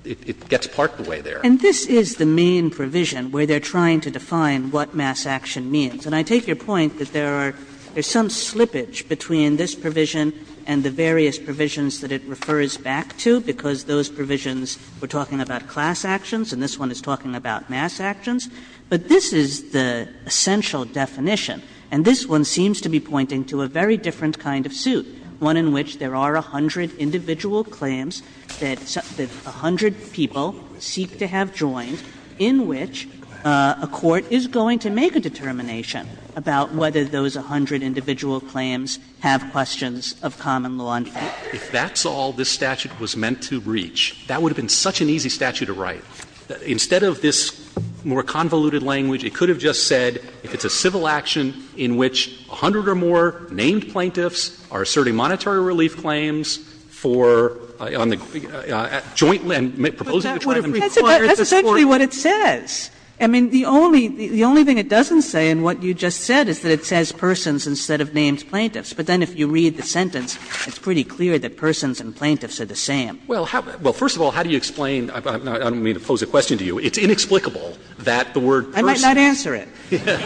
it gets part of the way there. Kagan And this is the main provision where they're trying to define what mass action means. And I take your point that there are some slippage between this provision and the various provisions that it refers back to, because those provisions were talking about class actions, and this one is talking about mass actions. But this is the essential definition, and this one seems to be pointing to a very different kind of suit, one in which there are 100 individual claims that 100 people seek to have joined in which a court is going to make a determination about whether those 100 individual claims have questions of common law and fact. If that's all this statute was meant to reach, that would have been such an easy statute to write. Instead of this more convoluted language, it could have just said if it's a civil action in which 100 or more named plaintiffs are asserting monetary relief claims for on the joint and proposing to try them jointly. Kagan But that would have required the court to say. Kagan That's essentially what it says. I mean, the only thing it doesn't say in what you just said is that it says persons instead of named plaintiffs. But then if you read the sentence, it's pretty clear that persons and plaintiffs are the same. Fisher Well, how do you explain, I don't mean to pose a question to you, it's inexplicable that the word persons. Kagan I might not answer it. Fisher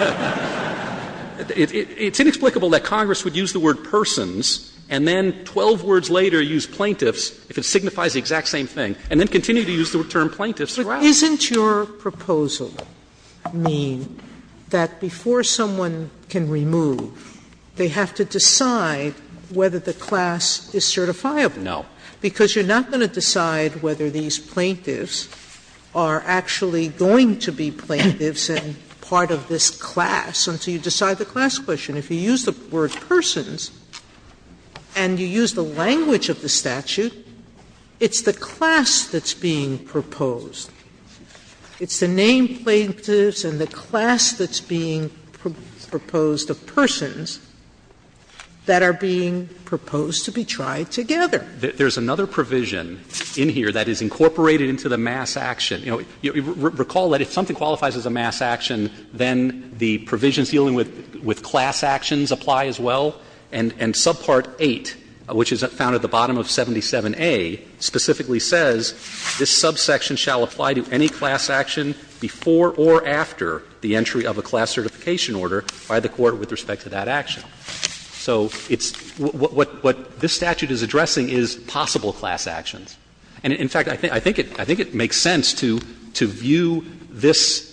It's inexplicable that Congress would use the word persons and then 12 words later use plaintiffs if it signifies the exact same thing, and then continue to use the term plaintiffs throughout. Sotomayor Isn't your proposal mean that before someone can remove, they have to decide whether the class is certifiable? Fisher No. Sotomayor Because you're not going to decide whether these plaintiffs are actually going to be plaintiffs and part of this class until you decide the class question. If you use the word persons and you use the language of the statute, it's the class that's being proposed. It's the name plaintiffs and the class that's being proposed of persons that are being proposed to be tried together. Fisher There's another provision in here that is incorporated into the mass action. You know, recall that if something qualifies as a mass action, then the provisions dealing with class actions apply as well, and subpart 8, which is found at the bottom of 77A, specifically says this subsection shall apply to any class action before or after the entry of a class certification order by the court with respect to that action. So it's what this statute is addressing is possible class actions. And in fact, I think it makes sense to view this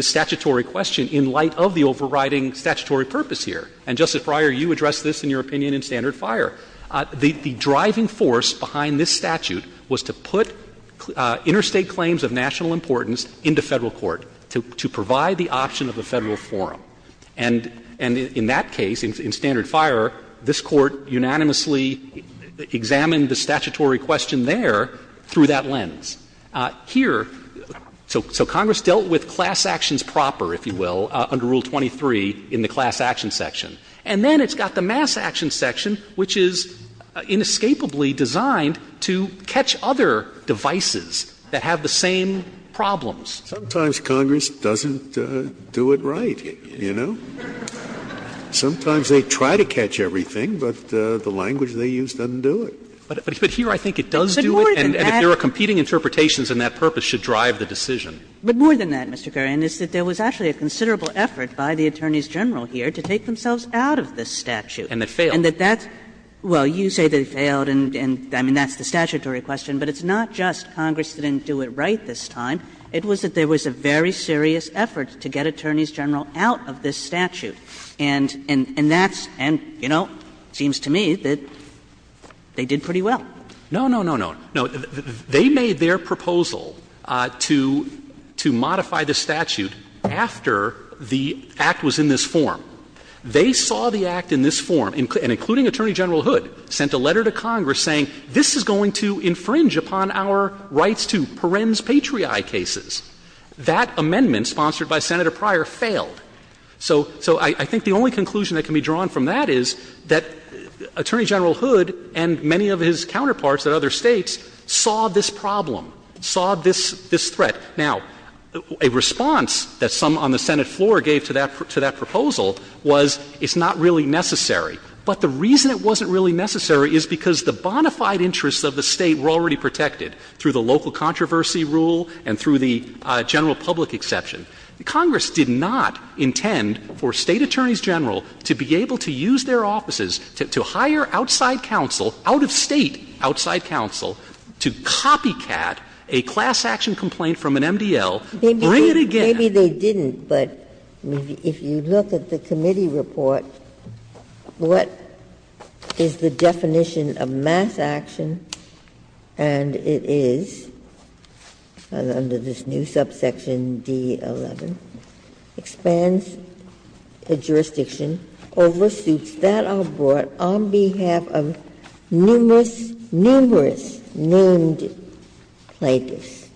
statutory question in light of the overriding statutory purpose here. And, Justice Breyer, you addressed this in your opinion in Standard Fire. The driving force behind this statute was to put interstate claims of national importance into Federal court to provide the option of a Federal forum. And in that case, in Standard Fire, this Court unanimously examined the statutory question there through that lens. Here, so Congress dealt with class actions proper, if you will, under Rule 23 in the class action section. And then it's got the mass action section, which is inescapably designed to catch other devices that have the same problems. Scalia, Congress doesn't do it right, you know. Sometimes they try to catch everything, but the language they use doesn't do it. But here I think it does do it, and if there are competing interpretations in that purpose, should drive the decision. But more than that, Mr. Kerry, and it's that there was actually a considerable effort by the Attorneys General here to take themselves out of this statute. And that failed. And that that's – well, you say they failed, and I mean, that's the statutory question, but it's not just Congress didn't do it right this time. It was that there was a very serious effort to get Attorneys General out of this statute, and that's – and, you know, it seems to me that they did pretty well. No, no, no, no. They made their proposal to modify the statute after the Act was in this form. They saw the Act in this form, and including Attorney General Hood, sent a letter to Congress saying this is going to infringe upon our rights to parens patriae cases. That amendment, sponsored by Senator Pryor, failed. So I think the only conclusion that can be drawn from that is that Attorney General Hood, like many of his counterparts at other States, saw this problem, saw this threat. Now, a response that some on the Senate floor gave to that proposal was it's not really necessary. But the reason it wasn't really necessary is because the bona fide interests of the State were already protected through the local controversy rule and through the general public exception. Congress did not intend for State Attorneys General to be able to use their offices to hire outside counsel, out-of-State outside counsel, to copycat a class action complaint from an MDL, bring it again. Ginsburg. Maybe they didn't, but if you look at the committee report, what is the definition of mass action, and it is, under this new subsection D-11, expands a jurisdiction over suits that are brought on behalf of numerous, numerous named plaintiffs.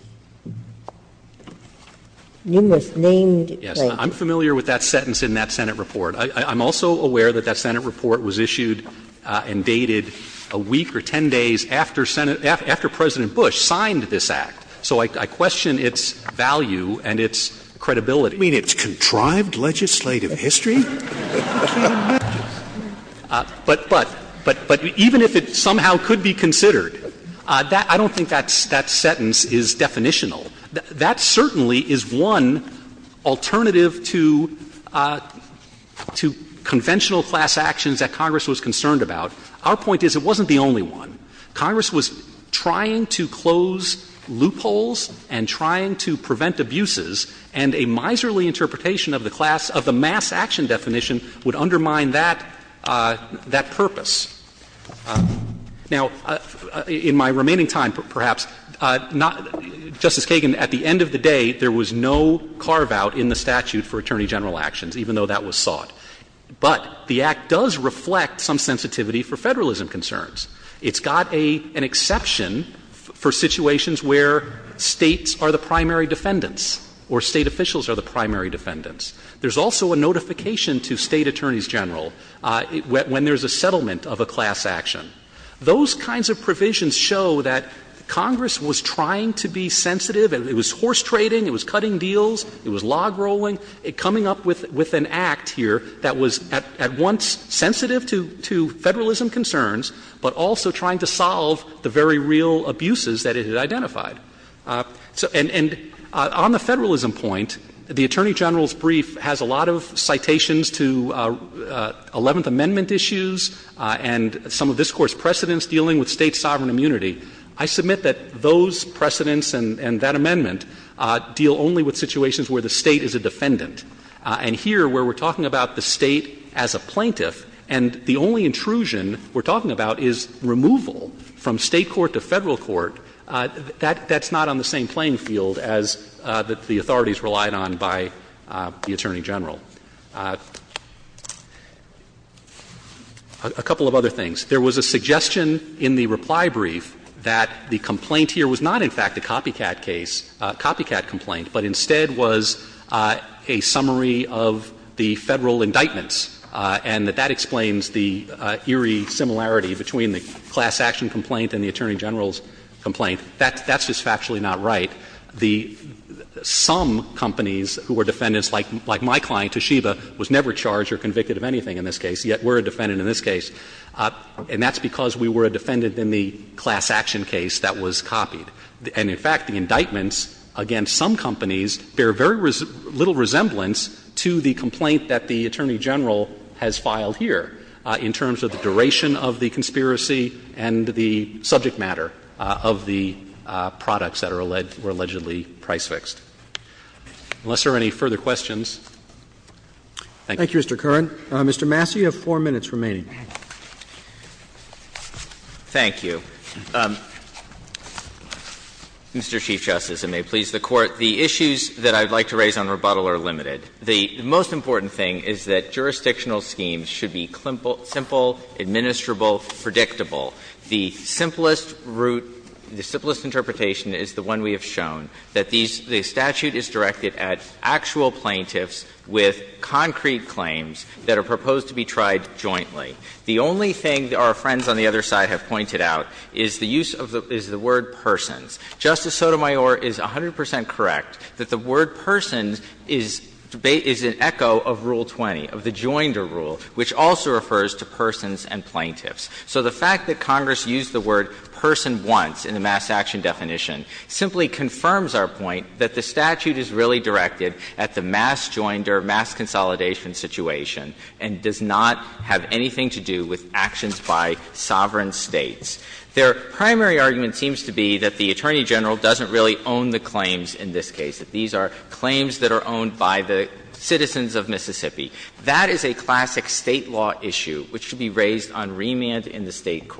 Numerous named plaintiffs. Yes. I'm familiar with that sentence in that Senate report. I'm also aware that that Senate report was issued and dated a week or 10 days after President Bush signed this Act. So I question its value and its credibility. You mean its contrived legislative history? But even if it somehow could be considered, I don't think that sentence is definitional. That certainly is one alternative to conventional class actions that Congress was concerned about. Our point is it wasn't the only one. Congress was trying to close loopholes and trying to prevent abuses, and a miserly interpretation of the class of the mass action definition would undermine that purpose. Now, in my remaining time, perhaps, Justice Kagan, at the end of the day, there was no carve-out in the statute for attorney general actions, even though that was sought. But the Act does reflect some sensitivity for Federalism concerns. It's got an exception for situations where States are the primary defendants or State officials are the primary defendants. There's also a notification to State attorneys general when there's a settlement of a class action. Those kinds of provisions show that Congress was trying to be sensitive. It was horse-trading, it was cutting deals, it was log-rolling, coming up with an Act here that was at once sensitive to Federalism concerns, but also trying to solve the very real abuses that it had identified. And on the Federalism point, the Attorney General's brief has a lot of citations to Eleventh Amendment issues and some of this Court's precedents dealing with State's sovereign immunity. I submit that those precedents and that amendment deal only with situations where the State is a defendant. And here, where we're talking about the State as a plaintiff, and the only intrusion we're talking about is removal from State court to Federal court, that's not on the same playing field as the authorities relied on by the Attorney General. A couple of other things. There was a suggestion in the reply brief that the complaint here was not, in fact, a copycat case, a copycat complaint, but instead was a summary of the Federal indictments, and that that explains the eerie similarity between the class action complaint and the Attorney General's complaint. That's just factually not right. Some companies who were defendants, like my client Toshiba, was never charged or convicted of anything in this case, yet were a defendant in this case. And that's because we were a defendant in the class action case that was copied. And, in fact, the indictments against some companies bear very little resemblance to the complaint that the Attorney General has filed here in terms of the duration of the conspiracy and the subject matter of the products that are alleged to be price fixed. Unless there are any further questions. Thank you. Roberts. Thank you, Mr. Curran. Mr. Massey, you have four minutes remaining. Thank you. Mr. Chief Justice, and may it please the Court, the issues that I would like to raise on rebuttal are limited. The most important thing is that jurisdictional schemes should be simple, administrable, predictable. The simplest route, the simplest interpretation is the one we have shown, that the statute is directed at actual plaintiffs with concrete claims that are proposed to be tried jointly. The only thing our friends on the other side have pointed out is the use of the word persons. Justice Sotomayor is 100 percent correct that the word persons is an echo of Rule 20, of the joinder rule, which also refers to persons and plaintiffs. So the fact that Congress used the word person once in the mass action definition simply confirms our point that the statute is really directed at the mass joinder, mass consolidation situation, and does not have anything to do with actions by sovereign States. Their primary argument seems to be that the Attorney General doesn't really own the claims in this case, that these are claims that are owned by the citizens of Mississippi. That is a classic State law issue which should be raised on remand in the State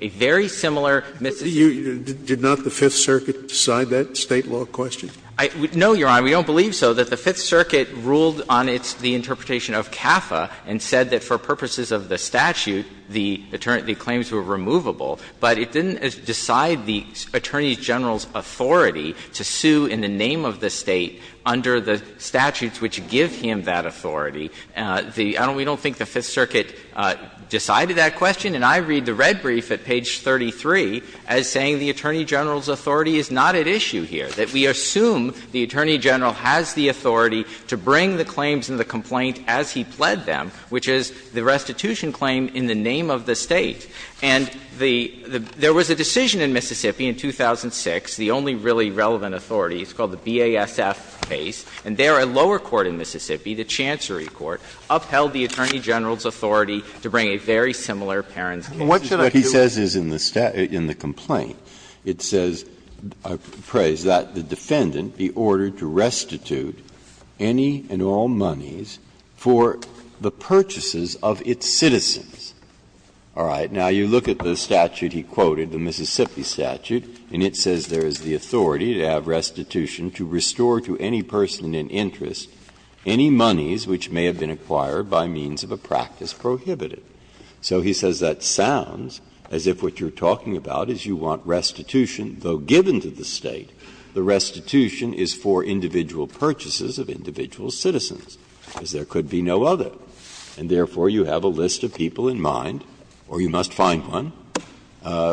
A very similar Mississippi issue. Scalia Did not the Fifth Circuit decide that State law question? No, Your Honor, we don't believe so, that the Fifth Circuit ruled on its the interpretation of CAFA and said that for purposes of the statute, the claims were removable. But it didn't decide the Attorney General's authority to sue in the name of the State under the statutes which give him that authority. The — I don't — we don't think the Fifth Circuit decided that question. And I read the red brief at page 33 as saying the Attorney General's authority is not at issue here, that we assume the Attorney General has the authority to bring the claims in the complaint as he pled them, which is the restitution claim in the name of the State. And the — there was a decision in Mississippi in 2006, the only really relevant authority, it's called the BASF case, and there a lower court in Mississippi, the Chancery Court, upheld the Attorney General's authority to bring a very similar parents' case. Breyer What he says is in the complaint, it says, I praise that, the defendant be ordered to restitute any and all monies for the purchases of its citizens. All right. Now, you look at the statute he quoted, the Mississippi statute, and it says there is the authority to have restitution to restore to any person in interest any monies which may have been acquired by means of a practice prohibitive. So he says that sounds as if what you're talking about is you want restitution, though given to the State, the restitution is for individual purchases of individual citizens, because there could be no other, and therefore you have a list of people in mind, or you must find one,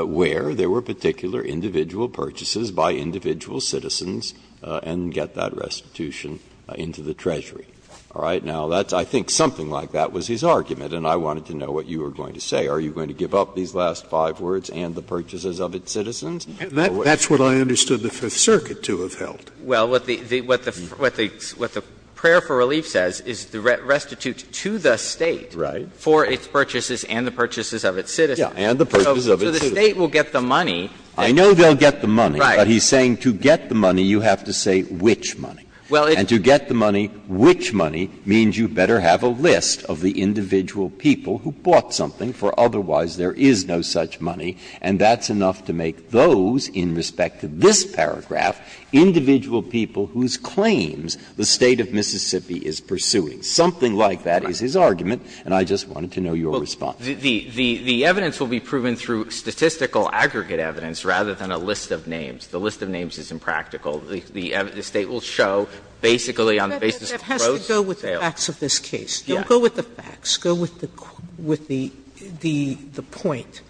where there were particular individual purchases by individual citizens and get that restitution into the Treasury. All right. Now, that's — I think something like that was his argument, and I wanted to know what you were going to say. Are you going to give up these last five words and the purchases of its citizens? Scalia That's what I understood the Fifth Circuit to have held. Well, what the — what the prayer for relief says is the restitute to the State for its purchases and the purchases of its citizens. Breyer Right. And the purchases of its citizens. So the State will get the money. Breyer I know they'll get the money. But he's saying to get the money, you have to say which money. And to get the money, which money, means you better have a list of the individual people who bought something, for otherwise there is no such money, and that's enough to make those, in respect to this paragraph, individual people whose claims the State of Mississippi is pursuing. Something like that is his argument, and I just wanted to know your response. Sotomayor Well, the evidence will be proven through statistical aggregate evidence rather than a list of names. The list of names is impractical. The State will show basically on the basis of gross sales. Sotomayor But that has to go with the facts of this case. Don't go with the facts. Sotomayor Let's go with the point,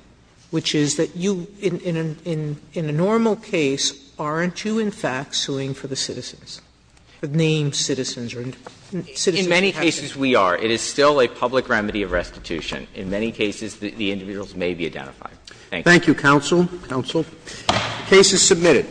which is that you, in a normal case, aren't you, in fact, suing for the citizens, the named citizens? Or citizens who have to be sued? Sotomayor In many cases we are. It is still a public remedy of restitution. In many cases, the individuals may be identified. Thank you. Roberts Thank you, counsel, counsel. The case is submitted.